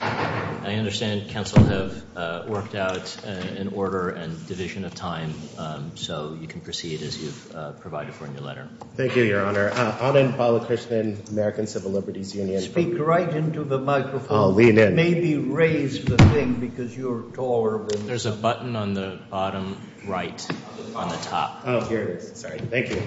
I understand counsel have worked out an order and division of time, so you can proceed as you've provided for in your letter. Thank you, Your Honor. Anand Balakrishnan, American Civil Liberties Union. Speak right into the microphone. I'll lean in. Maybe raise the thing because you're taller. There's a button on the bottom right on the top. Oh, here it is. Sorry. Thank you.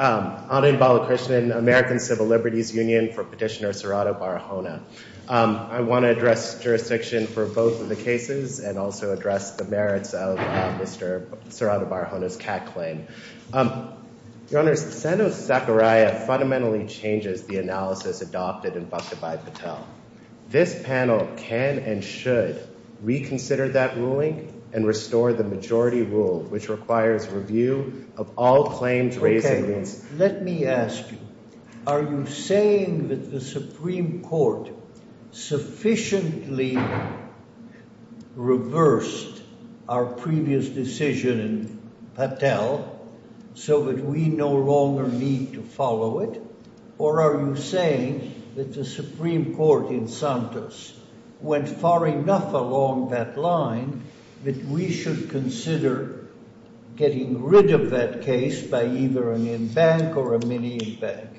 I'll lean. Anand Balakrishnan, American Civil Liberties Union, for Petitioner Serrato-Barahona. I want to address jurisdiction for both of the cases and also address the merits of Mr. Serrato-Barahona's CAT claim. Your Honors, Sano-Sakurai fundamentally changes the analysis adopted and buffeted by Patel. This panel can and should reconsider that ruling and restore the majority rule, which requires review of all claims raised against— Okay. Let me ask you, are you saying that the Supreme Court sufficiently reversed our previous decision in Patel so that we no longer need to follow it? Or are you saying that the Supreme Court in Santos went far enough along that line that we should consider getting rid of that case by either an in-bank or a mini-in-bank?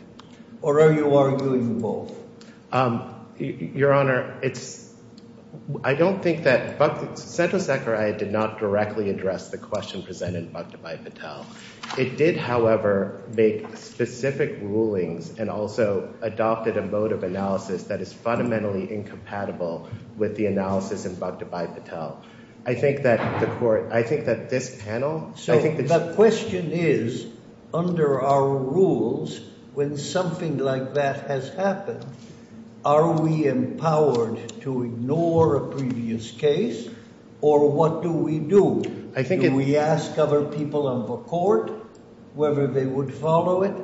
Or are you arguing both? Your Honor, it's—I don't think that—Sano-Sakurai did not directly address the question presented by Patel. It did, however, make specific rulings and also adopted a mode of analysis that is fundamentally incompatible with the analysis inbuffed by Patel. I think that the court—I think that this panel— So the question is, under our rules, when something like that has happened, are we empowered to ignore a previous case? Or what do we do? Do we ask other people on the court whether they would follow it?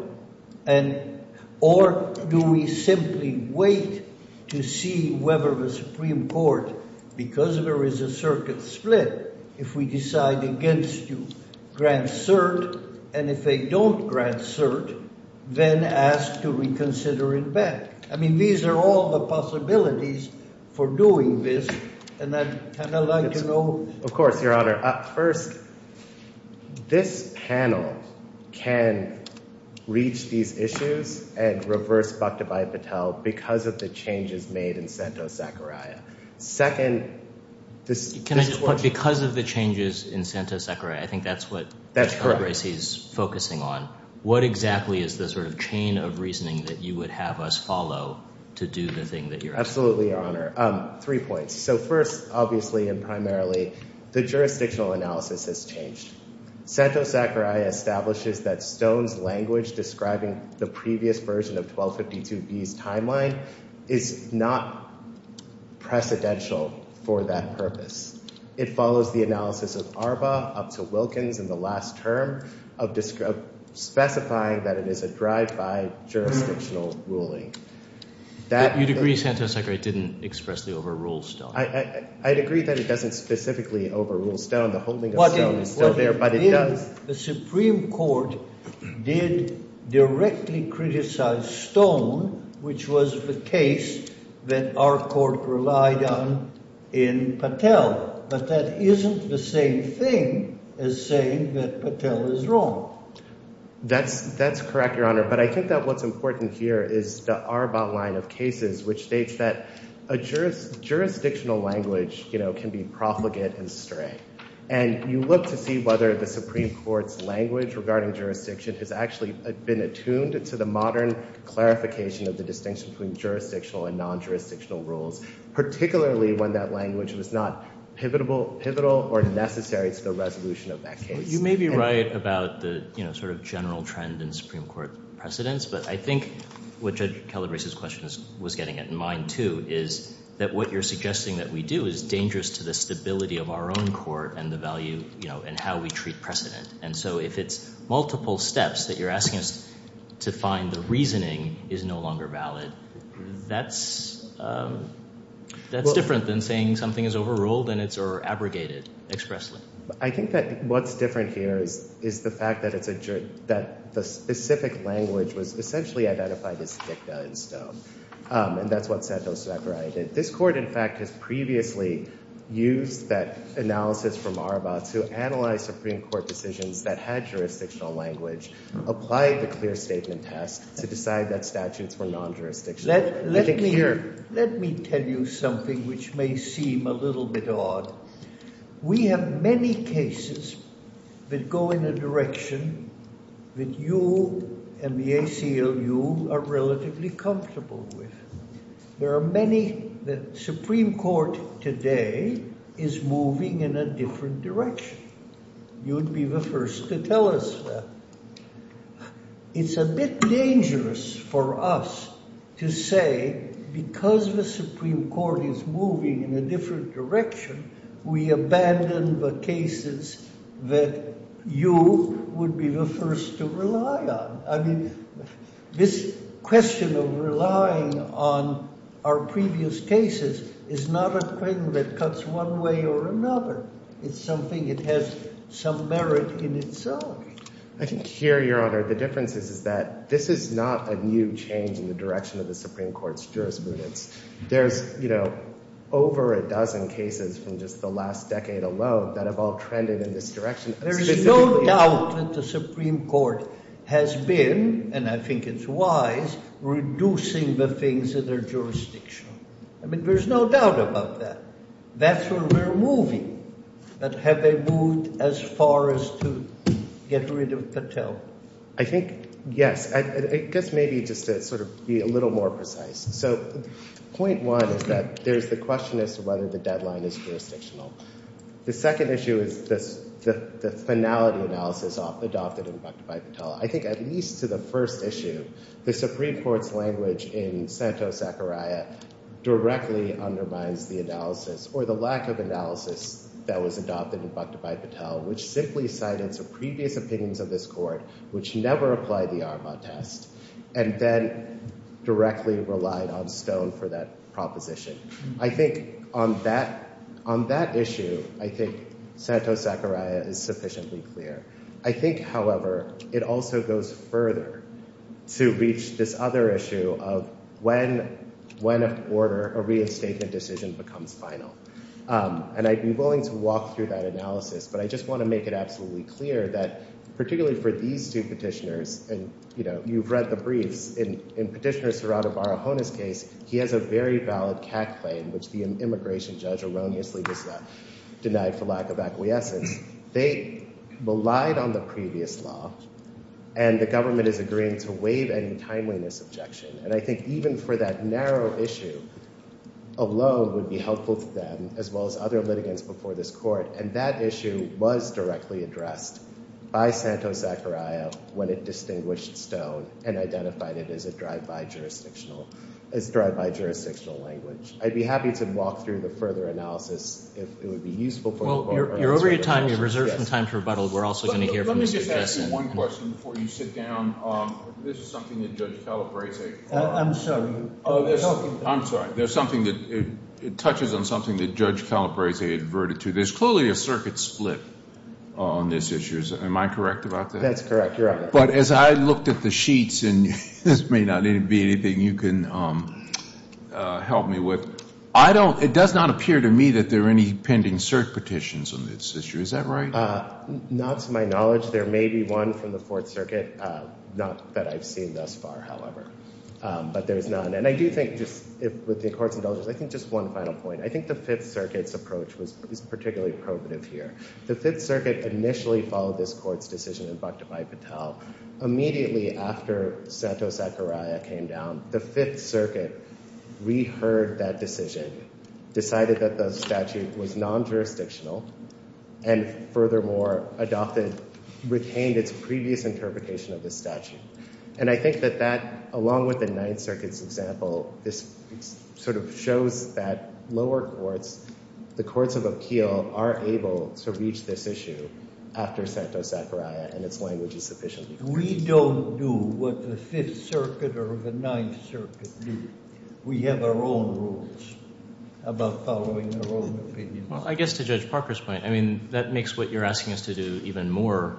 And—or do we simply wait to see whether the Supreme Court, because there is a circuit split, if we decide against to grant cert, and if they don't grant cert, then ask to reconsider in-bank? I mean, these are all the possibilities for doing this, and I'd kind of like to know— First, this panel can reach these issues and reverse Bakhtabai Patel because of the changes made in Sano-Sakurai. Second, this— Can I just—but because of the changes in Sano-Sakurai, I think that's what— That's correct. —Racy is focusing on. What exactly is the sort of chain of reasoning that you would have us follow to do the thing that you're asking? Absolutely, Your Honor. Three points. So first, obviously, and primarily, the jurisdictional analysis has changed. Sano-Sakurai establishes that Stone's language describing the previous version of 1252b's timeline is not precedential for that purpose. It follows the analysis of Arba up to Wilkins in the last term of specifying that it is a drive-by jurisdictional ruling. You'd agree Sano-Sakurai didn't expressly overrule Stone? I'd agree that it doesn't specifically overrule Stone. The holding of Stone is still there, but it does— The Supreme Court did directly criticize Stone, which was the case that our court relied on in Patel. But that isn't the same thing as saying that Patel is wrong. That's correct, Your Honor. But I think that what's important here is the Arba line of cases, which states that a jurisdictional language can be profligate and stray. And you look to see whether the Supreme Court's language regarding jurisdiction has actually been attuned to the modern clarification of the distinction between jurisdictional and non-jurisdictional rules, particularly when that language was not pivotal or necessary to the resolution of that case. You may be right about the sort of general trend in Supreme Court precedents. But I think what Judge Calabrese's question was getting at in mind, too, is that what you're suggesting that we do is dangerous to the stability of our own court and the value and how we treat precedent. And so if it's multiple steps that you're asking us to find the reasoning is no longer valid, that's different than saying something is overruled and it's—or abrogated expressly. I think that what's different here is the fact that it's a—that the specific language was essentially identified as dicta in stone. And that's what Santos-Zachariah did. This court, in fact, has previously used that analysis from Arba to analyze Supreme Court decisions that had jurisdictional language, applied the clear statement test to decide that statutes were non-jurisdictional. Let me tell you something which may seem a little bit odd. We have many cases that go in a direction that you and the ACLU are relatively comfortable with. There are many that Supreme Court today is moving in a different direction. You would be the first to tell us that. It's a bit dangerous for us to say because the Supreme Court is moving in a different direction, we abandon the cases that you would be the first to rely on. I mean this question of relying on our previous cases is not a thing that cuts one way or another. It's something that has some merit in itself. I think here, Your Honor, the difference is that this is not a new change in the direction of the Supreme Court's jurisprudence. There's, you know, over a dozen cases from just the last decade alone that have all trended in this direction. There is no doubt that the Supreme Court has been, and I think it's wise, reducing the things that are jurisdictional. I mean there's no doubt about that. That's where we're moving. But have they moved as far as to get rid of Patel? I think, yes. I guess maybe just to sort of be a little more precise. So point one is that there's the question as to whether the deadline is jurisdictional. The second issue is the finality analysis adopted by Patel. I think at least to the first issue, the Supreme Court's language in Santos-Zachariah directly undermines the analysis or the lack of analysis that was adopted and conducted by Patel, which simply cited some previous opinions of this Court which never applied the Arma test and then directly relied on Stone for that proposition. I think on that issue, I think Santos-Zachariah is sufficiently clear. I think, however, it also goes further to reach this other issue of when a reinstated decision becomes final. And I'd be willing to walk through that analysis, but I just want to make it absolutely clear that particularly for these two petitioners, and you've read the briefs, in Petitioner Serrato Barahona's case, he has a very valid CAC claim, which the immigration judge erroneously does not deny for lack of acquiescence. They relied on the previous law, and the government is agreeing to waive any timeliness objection. And I think even for that narrow issue, a loan would be helpful to them as well as other litigants before this Court. And that issue was directly addressed by Santos-Zachariah when it distinguished Stone and identified it as a drive-by jurisdictional language. I'd be happy to walk through the further analysis if it would be useful for the Court. Well, you're over your time. You're reserved some time to rebuttal. We're also going to hear from you. Let me just ask you one question before you sit down. This is something that Judge Calabrese. I'm sorry. I'm sorry. There's something that touches on something that Judge Calabrese adverted to. There's clearly a circuit split on this issue. Am I correct about that? That's correct. You're right. But as I looked at the sheets, and this may not be anything you can help me with, it does not appear to me that there are any pending cert petitions on this issue. Is that right? Not to my knowledge. There may be one from the Fourth Circuit. Not that I've seen thus far, however. But there's none. And I do think, with the Court's indulgence, I think just one final point. I think the Fifth Circuit's approach was particularly probative here. The Fifth Circuit initially followed this Court's decision in Bhaktapai Patel. Immediately after Sato Sakurai came down, the Fifth Circuit reheard that decision, decided that the statute was non-jurisdictional, and furthermore retained its previous interpretation of the statute. And I think that that, along with the Ninth Circuit's example, sort of shows that lower courts, the courts of Akeel, are able to reach this issue after Sato Sakurai and its language is sufficient. We don't do what the Fifth Circuit or the Ninth Circuit do. We have our own rules about following our own opinions. Well, I guess to Judge Parker's point, I mean, that makes what you're asking us to do even more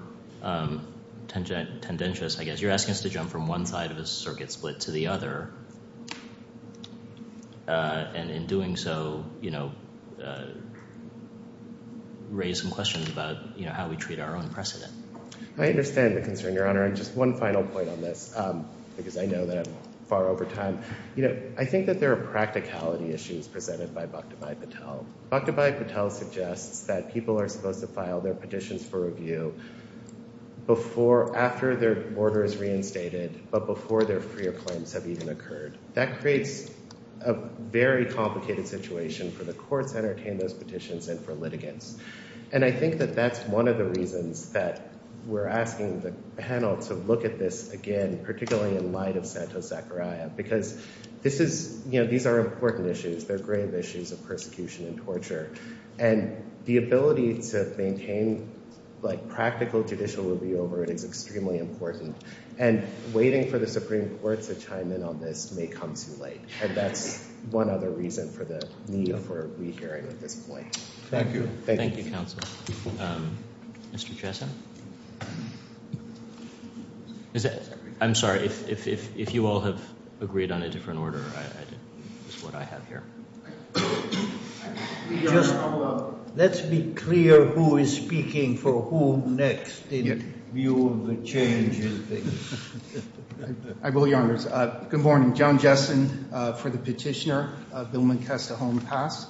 tendentious, I guess. You're asking us to jump from one side of a circuit split to the other. And in doing so, raise some questions about how we treat our own precedent. I understand the concern, Your Honor. And just one final point on this, because I know that I'm far over time. I think that there are practicality issues presented by Bhaktapai Patel. Bhaktapai Patel suggests that people are supposed to file their petitions for review after their order is reinstated, but before their freer claims have even occurred. That creates a very complicated situation for the courts that entertain those petitions and for litigants. And I think that that's one of the reasons that we're asking the panel to look at this again, particularly in light of Sato Sakurai, because these are important issues. They're grave issues of persecution and torture. And the ability to maintain practical judicial review over it is extremely important. And waiting for the Supreme Court to chime in on this may come too late. And that's one other reason for the need for a re-hearing at this point. Thank you. Thank you, counsel. Mr. Chesson? I'm sorry. If you all have agreed on a different order, it's what I have here. Just let's be clear who is speaking for whom next in view of the change in things. I will, Your Honors. Good morning. John Chesson for the petitioner, Bill McCastle-Holm, passed.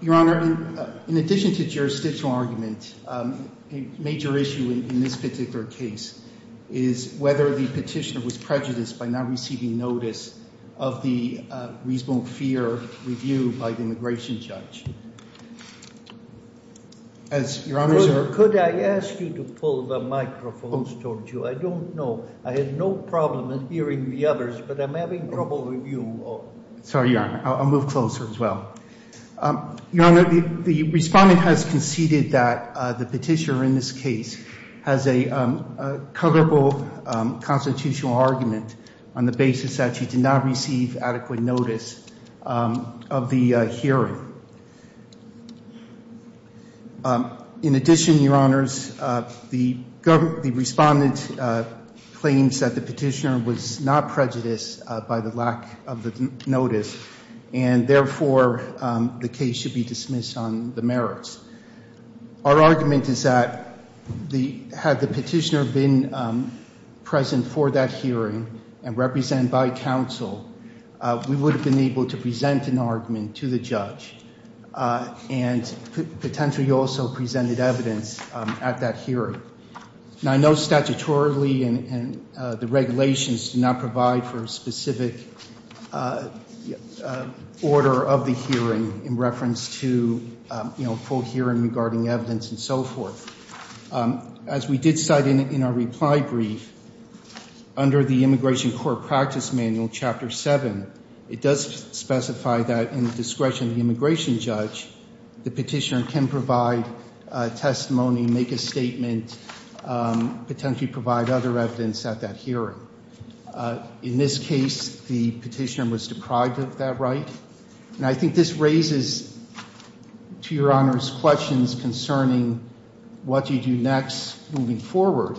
Your Honor, in addition to jurisdictional argument, a major issue in this particular case is whether the petitioner was prejudiced by not receiving notice of the reasonable fear review by the immigration judge. Could I ask you to pull the microphones towards you? I don't know. I had no problem in hearing the others, but I'm having trouble with you all. Sorry, Your Honor. I'll move closer as well. Your Honor, the respondent has conceded that the petitioner in this case has a coverable constitutional argument on the basis that she did not receive adequate notice of the hearing. In addition, Your Honors, the respondent claims that the petitioner was not prejudiced by the lack of the notice, and therefore the case should be dismissed on the merits. Our argument is that had the petitioner been present for that hearing and represented by counsel, we would have been able to present an argument to the judge and potentially also presented evidence at that hearing. Now, I know statutorily and the regulations do not provide for a specific order of the hearing in reference to, you know, full hearing regarding evidence and so forth. As we did cite in our reply brief, under the Immigration Court Practice Manual, Chapter 7, it does specify that in the discretion of the immigration judge, the petitioner can provide testimony, make a statement, potentially provide other evidence at that hearing. In this case, the petitioner was deprived of that right. And I think this raises, to Your Honors, questions concerning what do you do next moving forward.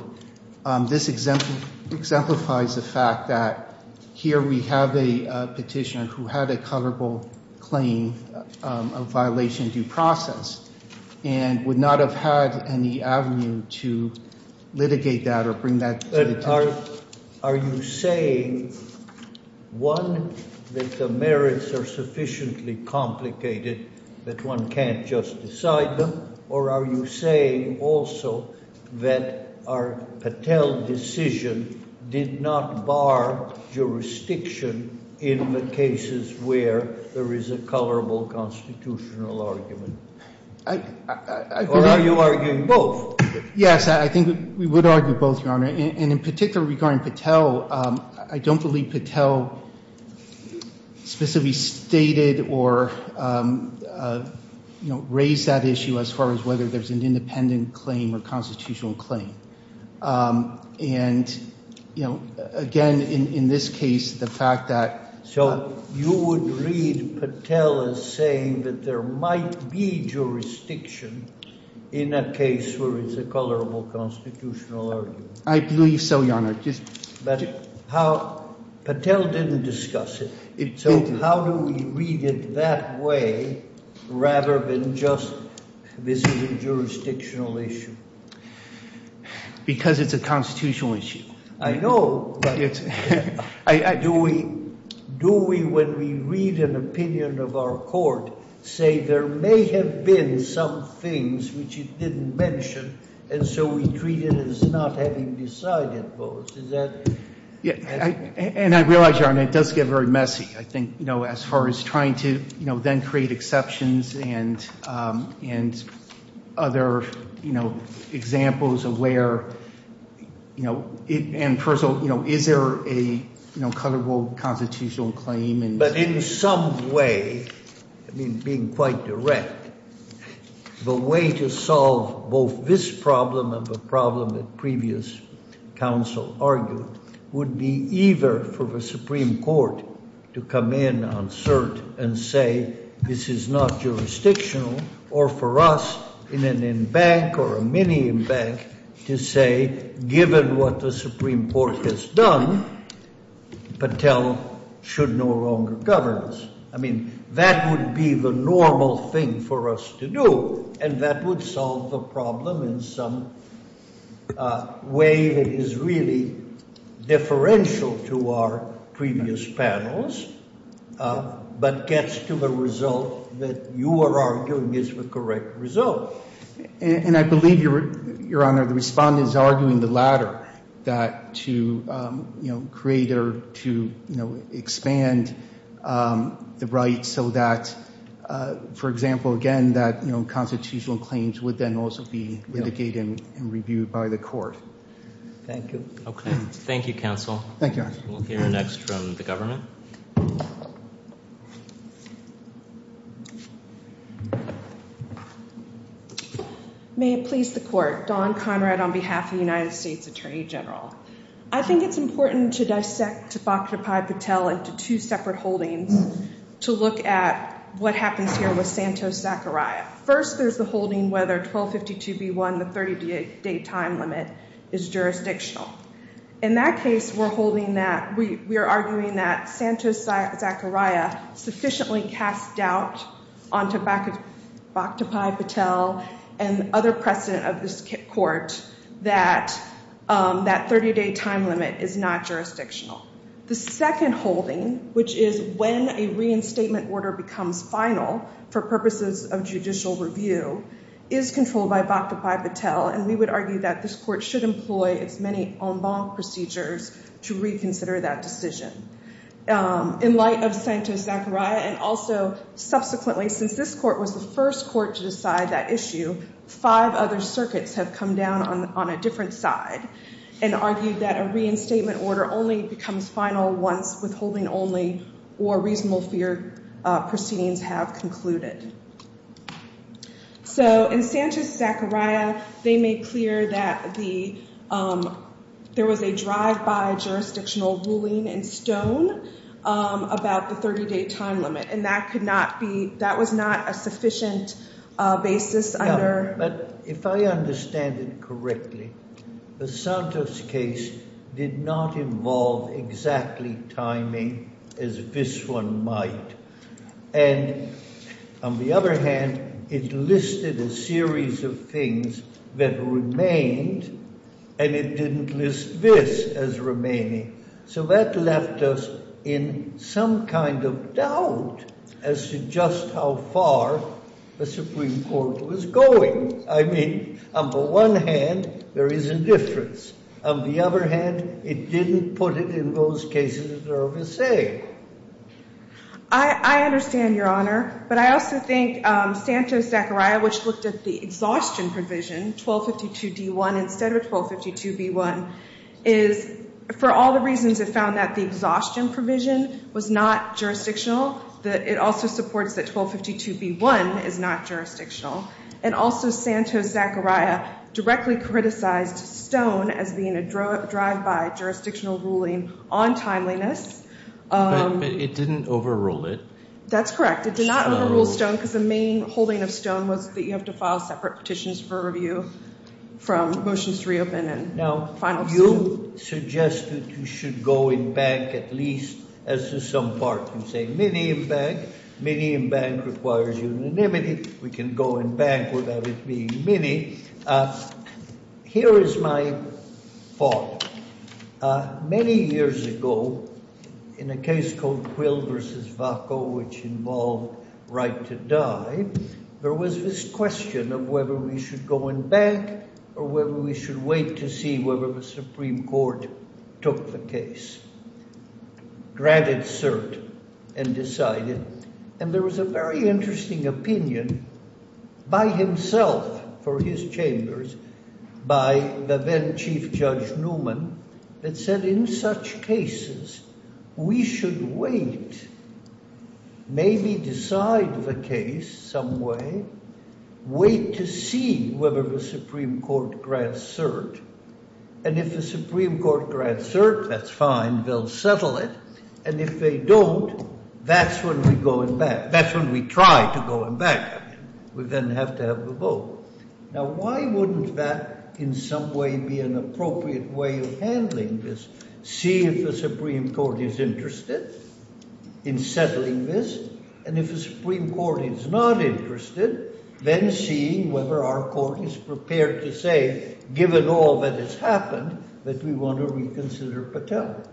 This exemplifies the fact that here we have a petitioner who had a coverable claim of violation due process and would not have had any avenue to litigate that or bring that to the table. Are you saying, one, that the merits are sufficiently complicated that one can't just decide them, or are you saying also that our Patel decision did not bar jurisdiction in the cases where there is a coverable constitutional argument? Or are you arguing both? Yes, I think we would argue both, Your Honor. And in particular regarding Patel, I don't believe Patel specifically stated or raised that issue as far as whether there's an independent claim or constitutional claim. And, you know, again, in this case, the fact that- So you would read Patel as saying that there might be jurisdiction in a case where it's a coverable constitutional argument. I believe so, Your Honor. But how- Patel didn't discuss it. So how do we read it that way rather than just this is a jurisdictional issue? Because it's a constitutional issue. I know, but do we, when we read an opinion of our court, say there may have been some things which it didn't mention, and so we treat it as not having decided both? Is that- And I realize, Your Honor, it does get very messy. I think, you know, as far as trying to, you know, then create exceptions and other, you know, examples of where, you know, and first of all, you know, is there a coverable constitutional claim? But in some way, I mean, being quite direct, the way to solve both this problem and the problem that previous counsel argued would be either for the Supreme Court to come in on cert and say this is not jurisdictional, or for us in an embank or a mini-embank to say given what the Supreme Court has done, Patel should no longer govern us. I mean, that would be the normal thing for us to do, and that would solve the problem in some way that is really differential to our previous panels, but gets to the result that you are arguing is the correct result. And I believe, Your Honor, the respondent is arguing the latter, that to, you know, create or to, you know, expand the right so that, for example, again, that, you know, constitutional claims would then also be litigated and reviewed by the court. Thank you. Okay. Thank you, counsel. Thank you, Your Honor. We'll hear next from the government. May it please the court. Dawn Conrad on behalf of the United States Attorney General. I think it's important to dissect Bhaktapai Patel into two separate holdings to look at what happens here with Santos-Zachariah. First, there's the holding whether 1252b1, the 30-day time limit, is jurisdictional. In that case, we're holding that, we are arguing that Santos-Zachariah sufficiently cast doubt onto Bhaktapai Patel and other precedent of this court that that 30-day time limit is not jurisdictional. The second holding, which is when a reinstatement order becomes final for purposes of judicial review, is controlled by Bhaktapai Patel, and we would argue that this court should employ as many en banc procedures to reconsider that decision. In light of Santos-Zachariah, and also subsequently since this court was the first court to decide that issue, five other circuits have come down on a different side and argued that a reinstatement order only becomes final once withholding only or reasonable fear proceedings have concluded. In Santos-Zachariah, they made clear that there was a drive-by jurisdictional ruling in Stone about the 30-day time limit, and that was not a sufficient basis under… On the other hand, it listed a series of things that remained, and it didn't list this as remaining. So that left us in some kind of doubt as to just how far the Supreme Court was going. I mean, on the one hand, there is a difference. On the other hand, it didn't put it in those cases that are of the same. I understand, Your Honor. But I also think Santos-Zachariah, which looked at the exhaustion provision, 1252d1 instead of 1252b1, is, for all the reasons it found that the exhaustion provision was not jurisdictional, that it also supports that 1252b1 is not jurisdictional. And also Santos-Zachariah directly criticized Stone as being a drive-by jurisdictional ruling on timeliness. But it didn't overrule it. That's correct. It did not overrule Stone because the main holding of Stone was that you have to file separate petitions for review from motions to reopen and final suit. You suggested you should go in bank at least as to some part. You say mini in bank. Mini in bank requires unanimity. We can go in bank without it being mini. Here is my thought. Many years ago, in a case called Quill v. Vaco, which involved right to die, there was this question of whether we should go in bank or whether we should wait to see whether the Supreme Court took the case. Granted cert and decided. And there was a very interesting opinion by himself for his chambers by the then Chief Judge Newman that said, in such cases, we should wait, maybe decide the case some way, wait to see whether the Supreme Court grants cert. And if the Supreme Court grants cert, that's fine. They'll settle it. And if they don't, that's when we go in bank. That's when we try to go in bank. We then have to have a vote. Now, why wouldn't that in some way be an appropriate way of handling this? See if the Supreme Court is interested in settling this. And if the Supreme Court is not interested, then see whether our court is prepared to say, given all that has happened, that we want to reconsider Patel.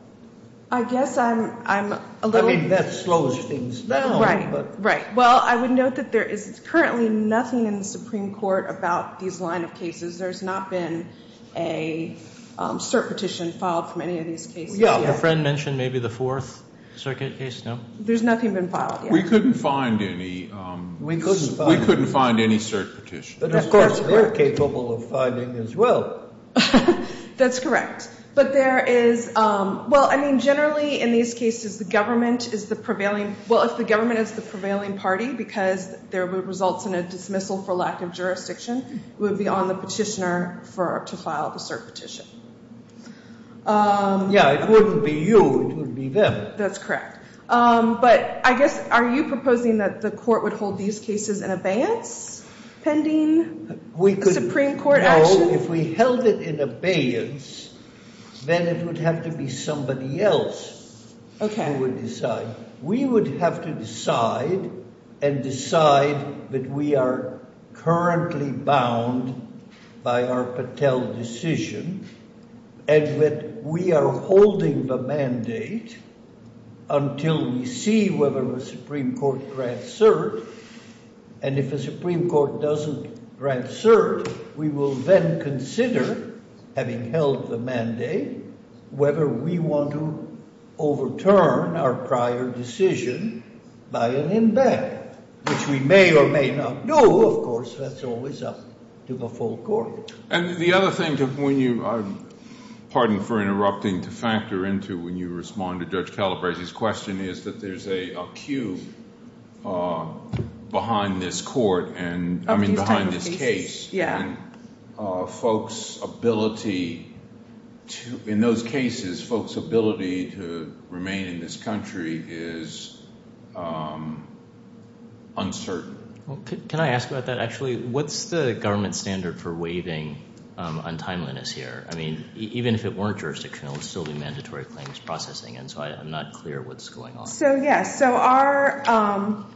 I guess I'm a little... I mean, that slows things down. Right, right. Well, I would note that there is currently nothing in the Supreme Court about these line of cases. There's not been a cert petition filed from any of these cases yet. Your friend mentioned maybe the Fourth Circuit case, no? There's nothing been filed yet. We couldn't find any. We couldn't find any. We couldn't find any cert petitions. But of course we're capable of finding as well. That's correct. But there is... Well, I mean, generally in these cases the government is the prevailing... Well, if the government is the prevailing party because there would result in a dismissal for lack of jurisdiction, it would be on the petitioner to file the cert petition. Yeah, it wouldn't be you. It would be them. That's correct. But I guess, are you proposing that the court would hold these cases in abeyance pending a Supreme Court action? No, if we held it in abeyance, then it would have to be somebody else who would decide. We would have to decide and decide that we are currently bound by our Patel decision and that we are holding the mandate until we see whether the Supreme Court grants cert. And if the Supreme Court doesn't grant cert, we will then consider, having held the mandate, whether we want to overturn our prior decision by an embed, which we may or may not do. Of course, that's always up to the full court. And the other thing, pardon for interrupting, to factor into when you respond to Judge Calabresi's question is that there's a queue behind this court and behind this case. Yeah. And folks' ability to, in those cases, folks' ability to remain in this country is uncertain. Can I ask about that, actually? What's the government standard for waiving untimeliness here? I mean, even if it weren't jurisdictional, it would still be mandatory claims processing, and so I'm not clear what's going on. So, yes. So,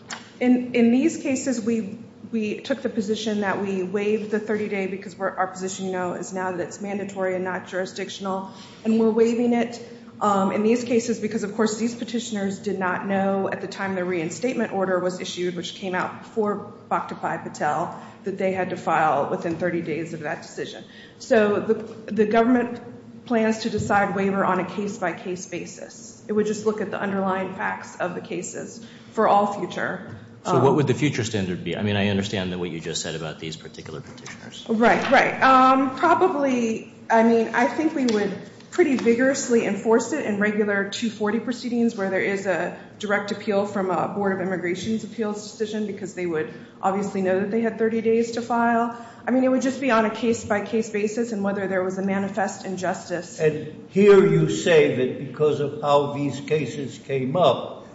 in these cases, we took the position that we waived the 30-day because our position, you know, is now that it's mandatory and not jurisdictional. And we're waiving it in these cases because, of course, these petitioners did not know at the time the reinstatement order was issued, which came out before Bhaktapai Patel, that they had to file within 30 days of that decision. So, the government plans to decide waiver on a case-by-case basis. It would just look at the underlying facts of the cases for all future. So, what would the future standard be? I mean, I understand what you just said about these particular petitioners. Right, right. Probably, I mean, I think we would pretty vigorously enforce it in regular 240 proceedings where there is a direct appeal from a Board of Immigration's appeals decision because they would obviously know that they had 30 days to file. I mean, it would just be on a case-by-case basis and whether there was a manifest injustice. And here you say that because of how these cases came up,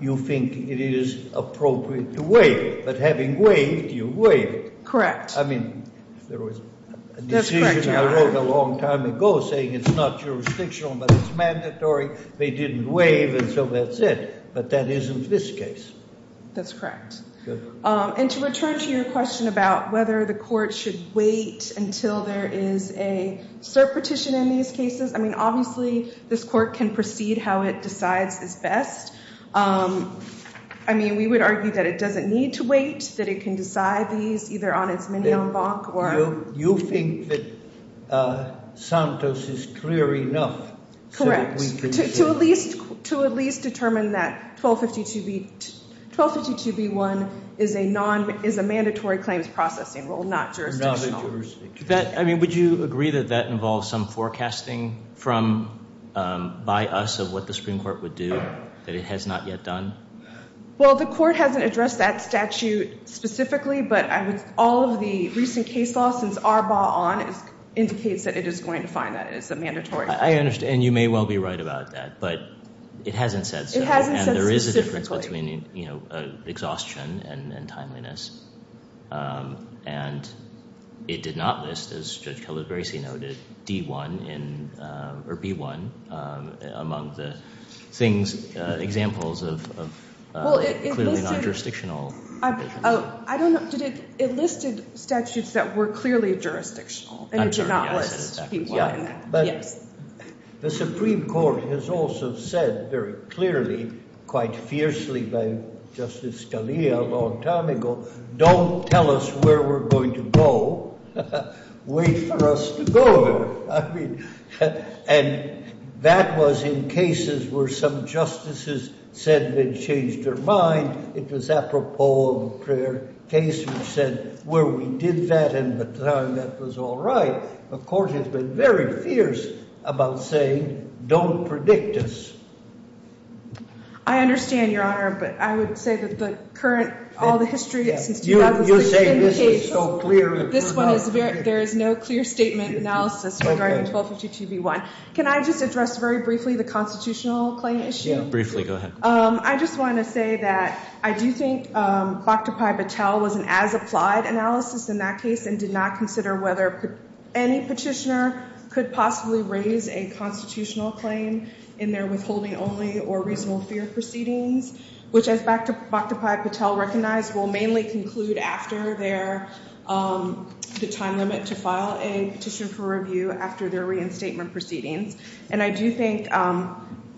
you think it is appropriate to waive. But having waived, you waived. Correct. I mean, there was a decision I wrote a long time ago saying it's not jurisdictional, but it's mandatory. They didn't waive, and so that's it. But that isn't this case. That's correct. And to return to your question about whether the court should wait until there is a cert petition in these cases, I mean, obviously, this court can proceed how it decides is best. I mean, we would argue that it doesn't need to wait, that it can decide these either on its mini en banc or — You think that Santos is clear enough that we can say — Correct. To at least determine that 1252B1 is a mandatory claims processing rule, not jurisdictional. I mean, would you agree that that involves some forecasting by us of what the Supreme Court would do that it has not yet done? Well, the court hasn't addressed that statute specifically, but all of the recent case law since Arbaugh on indicates that it is going to find that it is mandatory. I understand. And you may well be right about that, but it hasn't said so. It hasn't said specifically. Exhaustion and timeliness. And it did not list, as Judge Kelly-Gracy noted, D1 or B1 among the things, examples of clearly not jurisdictional. I don't know. It listed statutes that were clearly jurisdictional. And it did not list B1 in that. Yes. The Supreme Court has also said very clearly, quite fiercely by Justice Scalia a long time ago, don't tell us where we're going to go. Wait for us to go there. I mean, and that was in cases where some justices said they'd changed their mind. It was apropos of a prior case which said where we did that in the time that was all right. The court has been very fierce about saying don't predict us. I understand, Your Honor, but I would say that the current, all the history since 2016 cases. You say this is so clear. This one is very, there is no clear statement analysis regarding 1252B1. Can I just address very briefly the constitutional claim issue? Briefly, go ahead. I just want to say that I do think Bhaktapai Patel was an as-applied analysis in that case and did not consider whether any petitioner could possibly raise a constitutional claim in their withholding only or reasonable fear proceedings, which as Bhaktapai Patel recognized will mainly conclude after their, the time limit to file a petition for review after their reinstatement proceedings. And I do think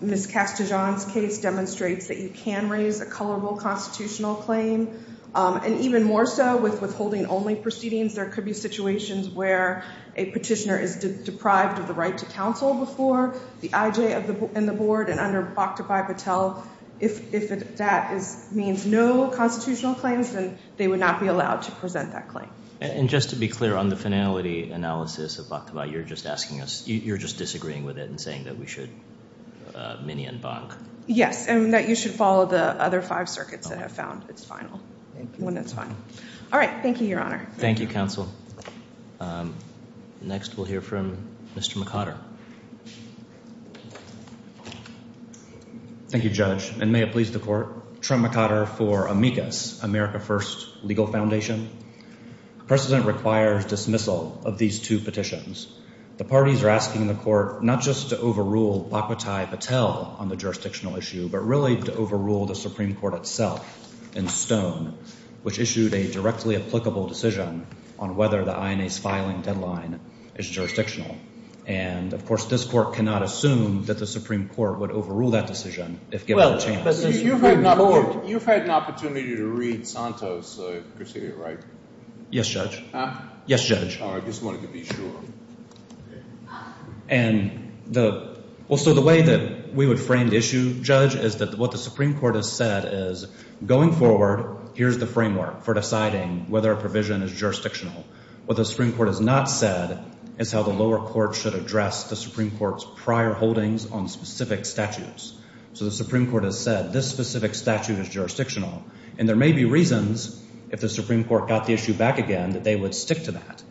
Ms. Castajon's case demonstrates that you can raise a colorable constitutional claim. And even more so with withholding only proceedings, there could be situations where a petitioner is deprived of the right to counsel before the IJ and the board. And under Bhaktapai Patel, if that means no constitutional claims, then they would not be allowed to present that claim. And just to be clear on the finality analysis of Bhaktapai, you're just asking us, you're just disagreeing with it and saying that we should mini-embank. Yes, and that you should follow the other five circuits that have found its final. All right. Thank you, Your Honor. Thank you, counsel. Next we'll hear from Mr. McOtter. Thank you, Judge, and may it please the court. Trent McOtter for Amicus, America First Legal Foundation. The precedent requires dismissal of these two petitions. The parties are asking the court not just to overrule Bhaktapai Patel on the jurisdictional issue, but really to overrule the Supreme Court itself in Stone, which issued a directly applicable decision on whether the INA's filing deadline is jurisdictional. And, of course, this court cannot assume that the Supreme Court would overrule that decision if given a chance. You've had an opportunity to read Santos, right? Yes, Judge. Yes, Judge. I just wanted to be sure. And the way that we would frame the issue, Judge, is that what the Supreme Court has said is going forward, here's the framework for deciding whether a provision is jurisdictional. What the Supreme Court has not said is how the lower court should address the Supreme Court's prior holdings on specific statutes. So the Supreme Court has said this specific statute is jurisdictional, and there may be reasons, if the Supreme Court got the issue back again, that they would stick to that.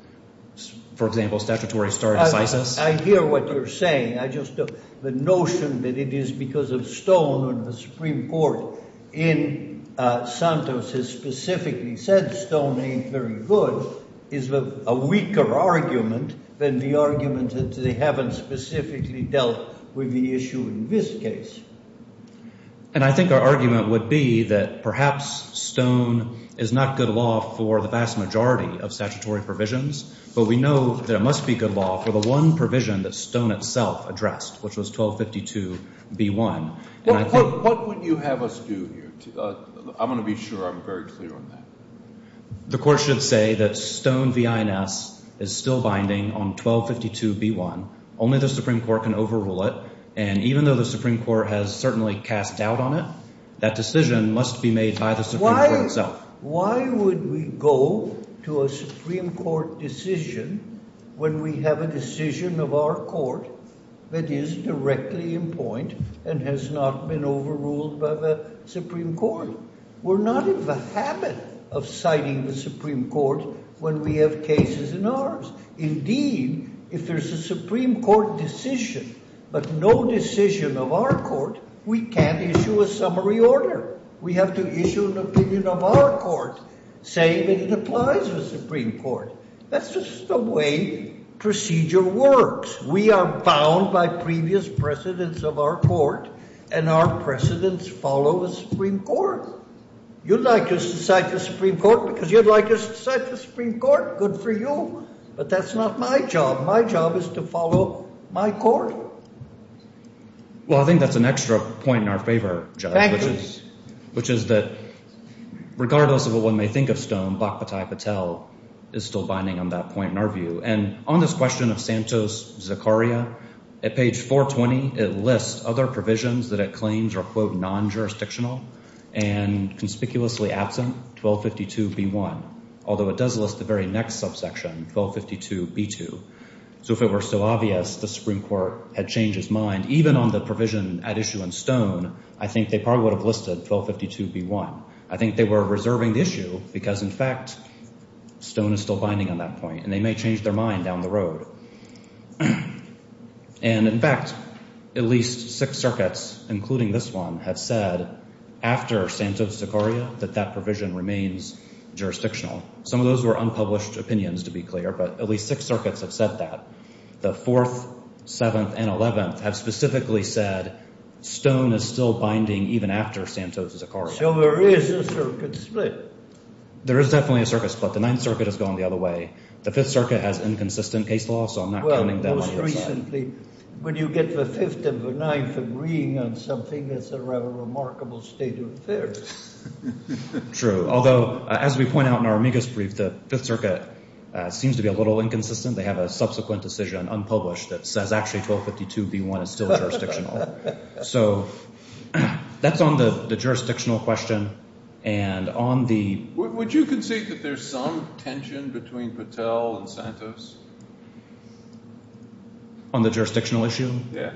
For example, statutory stare decisis. I hear what you're saying. I just don't. The notion that it is because of Stone or the Supreme Court in Santos has specifically said Stone ain't very good is a weaker argument than the argument that they haven't specifically dealt with the issue in this case. And I think our argument would be that perhaps Stone is not good law for the vast majority of statutory provisions, but we know that it must be good law for the one provision that Stone itself addressed, which was 1252b1. What would you have us do here? I'm going to be sure I'm very clear on that. The court should say that Stone v. INS is still binding on 1252b1. Only the Supreme Court can overrule it, and even though the Supreme Court has certainly cast doubt on it, that decision must be made by the Supreme Court itself. Why would we go to a Supreme Court decision when we have a decision of our court that is directly in point and has not been overruled by the Supreme Court? We're not in the habit of citing the Supreme Court when we have cases in ours. Indeed, if there's a Supreme Court decision but no decision of our court, we can't issue a summary order. We have to issue an opinion of our court saying that it applies to the Supreme Court. That's just the way procedure works. We are bound by previous precedents of our court, and our precedents follow the Supreme Court. You'd like us to cite the Supreme Court because you'd like us to cite the Supreme Court. Good for you. But that's not my job. My job is to follow my court. Well, I think that's an extra point in our favor, which is that regardless of what one may think of Stone, Bhakpati Patel is still binding on that point in our view. And on this question of Santos-Zakaria, at page 420, it lists other provisions that it claims are, quote, non-jurisdictional and conspicuously absent, 1252b1. Although it does list the very next subsection, 1252b2. So if it were so obvious the Supreme Court had changed its mind, even on the provision at issue in Stone, I think they probably would have listed 1252b1. I think they were reserving the issue because, in fact, Stone is still binding on that point, and they may change their mind down the road. And, in fact, at least six circuits, including this one, have said after Santos-Zakaria that that provision remains jurisdictional. Some of those were unpublished opinions, to be clear, but at least six circuits have said that. The Fourth, Seventh, and Eleventh have specifically said Stone is still binding even after Santos-Zakaria. So there is a circuit split. There is definitely a circuit split. The Ninth Circuit has gone the other way. The Fifth Circuit has inconsistent case law, so I'm not counting them on your side. Well, most recently, when you get the Fifth and the Ninth agreeing on something, it's a rather remarkable state of affairs. True. Although, as we point out in our amicus brief, the Fifth Circuit seems to be a little inconsistent. They have a subsequent decision unpublished that says actually 1252b1 is still jurisdictional. So that's on the jurisdictional question, and on the— Would you concede that there's some tension between Patel and Santos? On the jurisdictional issue? Yeah.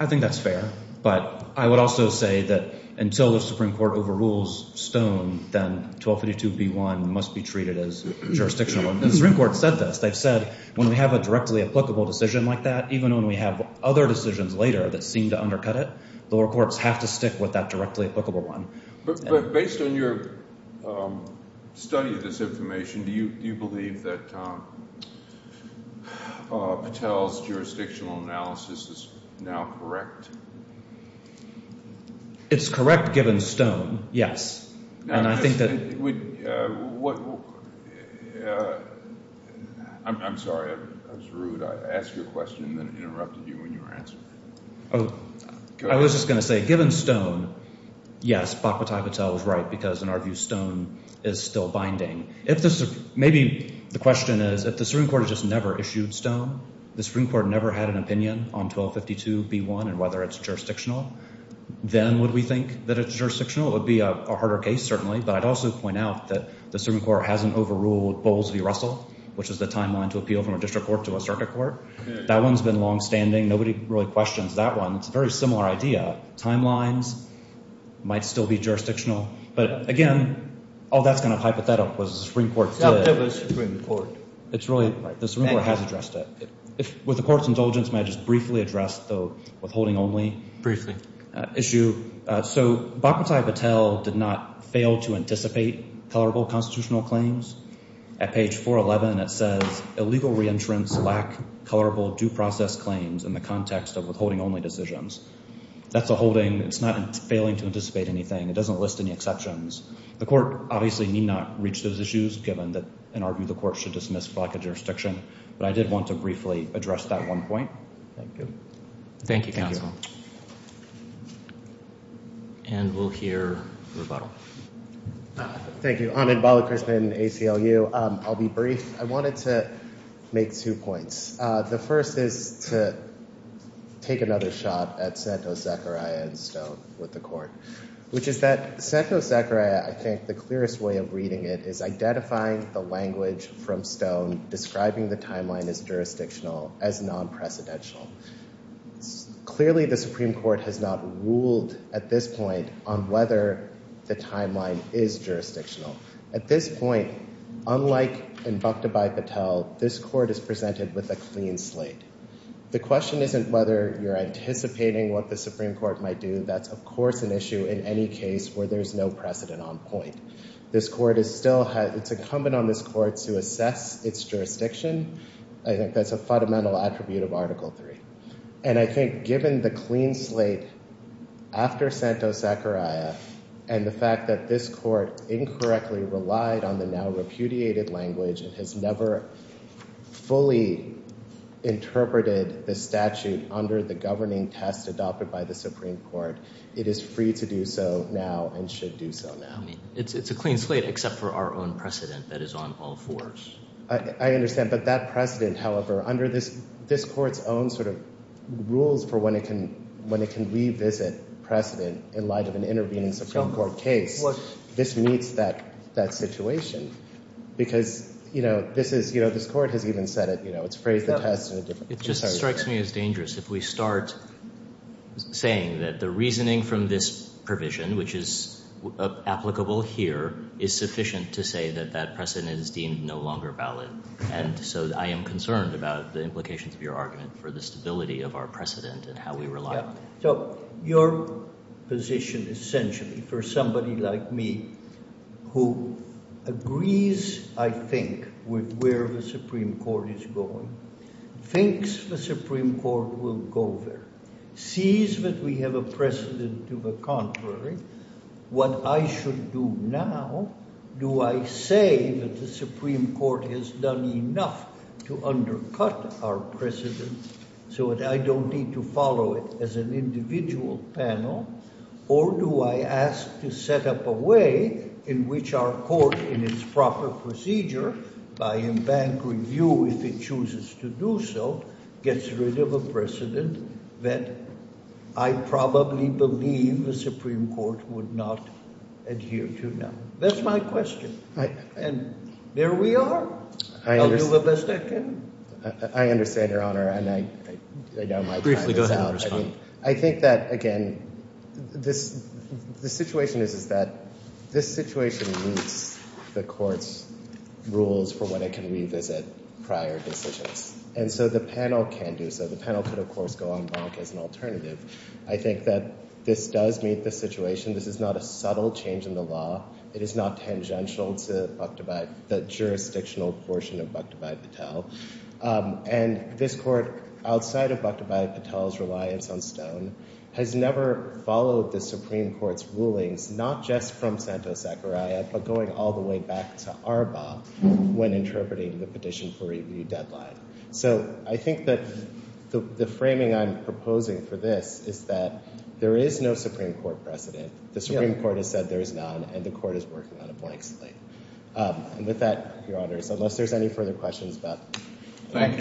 I think that's fair, but I would also say that until the Supreme Court overrules Stone, then 1252b1 must be treated as jurisdictional. The Supreme Court said this. They've said when we have a directly applicable decision like that, even when we have other decisions later that seem to undercut it, the lower courts have to stick with that directly applicable one. But based on your study of this information, do you believe that Patel's jurisdictional analysis is now correct? It's correct given Stone, yes. And I think that— I'm sorry. I was rude. I asked you a question and then interrupted you when you were answering. I was just going to say, given Stone, yes, Bakhbatai Patel is right because, in our view, Stone is still binding. Maybe the question is if the Supreme Court has just never issued Stone, the Supreme Court never had an opinion on 1252b1 and whether it's jurisdictional, then would we think that it's jurisdictional? It would be a harder case, certainly, but I'd also point out that the Supreme Court hasn't overruled Bowles v. Russell, which is the timeline to appeal from a district court to a circuit court. That one's been longstanding. Nobody really questions that one. It's a very similar idea. Timelines might still be jurisdictional, but, again, all that's kind of hypothetical because the Supreme Court said it. That was the Supreme Court. It's really—the Supreme Court has addressed it. With the Court's indulgence, may I just briefly address, though, withholding only? Briefly. Issue. So Bakhbatai Patel did not fail to anticipate colorable constitutional claims. At page 411, it says, Illegal reentrance lack colorable due process claims in the context of withholding only decisions. That's a holding. It's not failing to anticipate anything. It doesn't list any exceptions. The Court obviously need not reach those issues given that, in our view, the Court should dismiss blockage jurisdiction. But I did want to briefly address that one point. Thank you. Thank you, Counsel. And we'll hear rebuttal. Thank you. Ahmed Balakrishnan, ACLU. I'll be brief. I wanted to make two points. The first is to take another shot at Santo Zechariah and Stone with the Court, which is that Santo Zechariah, I think, the clearest way of reading it, is identifying the language from Stone describing the timeline as jurisdictional, as non-precedential. Clearly, the Supreme Court has not ruled at this point on whether the timeline is jurisdictional. At this point, unlike in Bhakta Bhai Patel, this Court is presented with a clean slate. The question isn't whether you're anticipating what the Supreme Court might do. That's, of course, an issue in any case where there's no precedent on point. This Court is still—it's incumbent on this Court to assess its jurisdiction. I think that's a fundamental attribute of Article III. And I think given the clean slate after Santo Zechariah and the fact that this Court incorrectly relied on the now repudiated language and has never fully interpreted the statute under the governing test adopted by the Supreme Court, it is free to do so now and should do so now. It's a clean slate except for our own precedent that is on all fours. I understand. But that precedent, however, under this Court's own sort of rules for when it can revisit precedent in light of an intervening Supreme Court case, this meets that situation. Because this is—this Court has even said it. It's phrased the test in a different way. It just strikes me as dangerous if we start saying that the reasoning from this provision, which is applicable here, is sufficient to say that that precedent is deemed no longer valid. And so I am concerned about the implications of your argument for the stability of our precedent and how we rely on it. So your position essentially for somebody like me who agrees, I think, with where the Supreme Court is going, thinks the Supreme Court will go there, sees that we have a precedent to the contrary. What I should do now, do I say that the Supreme Court has done enough to undercut our precedent so that I don't need to follow it as an individual panel? Or do I ask to set up a way in which our Court, in its proper procedure, by embankment review, if it chooses to do so, gets rid of a precedent that I probably believe the Supreme Court would not adhere to now? That's my question. And there we are. I'll do the best I can. I understand, Your Honor. And I know my time is out. Briefly go ahead and respond. I think that, again, the situation is that this situation meets the Court's rules for when it can revisit prior decisions. And so the panel can do so. The panel could, of course, go en blanc as an alternative. I think that this does meet the situation. This is not a subtle change in the law. It is not tangential to the jurisdictional portion of Bhakta Bhai Patel. And this Court, outside of Bhakta Bhai Patel's reliance on Stone, has never followed the Supreme Court's rulings, not just from Santos-Sakurai, but going all the way back to Arba when interpreting the petition for review deadline. So I think that the framing I'm proposing for this is that there is no Supreme Court precedent. The Supreme Court has said there is none, and the Court is working on a blank slate. And with that, Your Honors, unless there's any further questions, Beth. Thank you.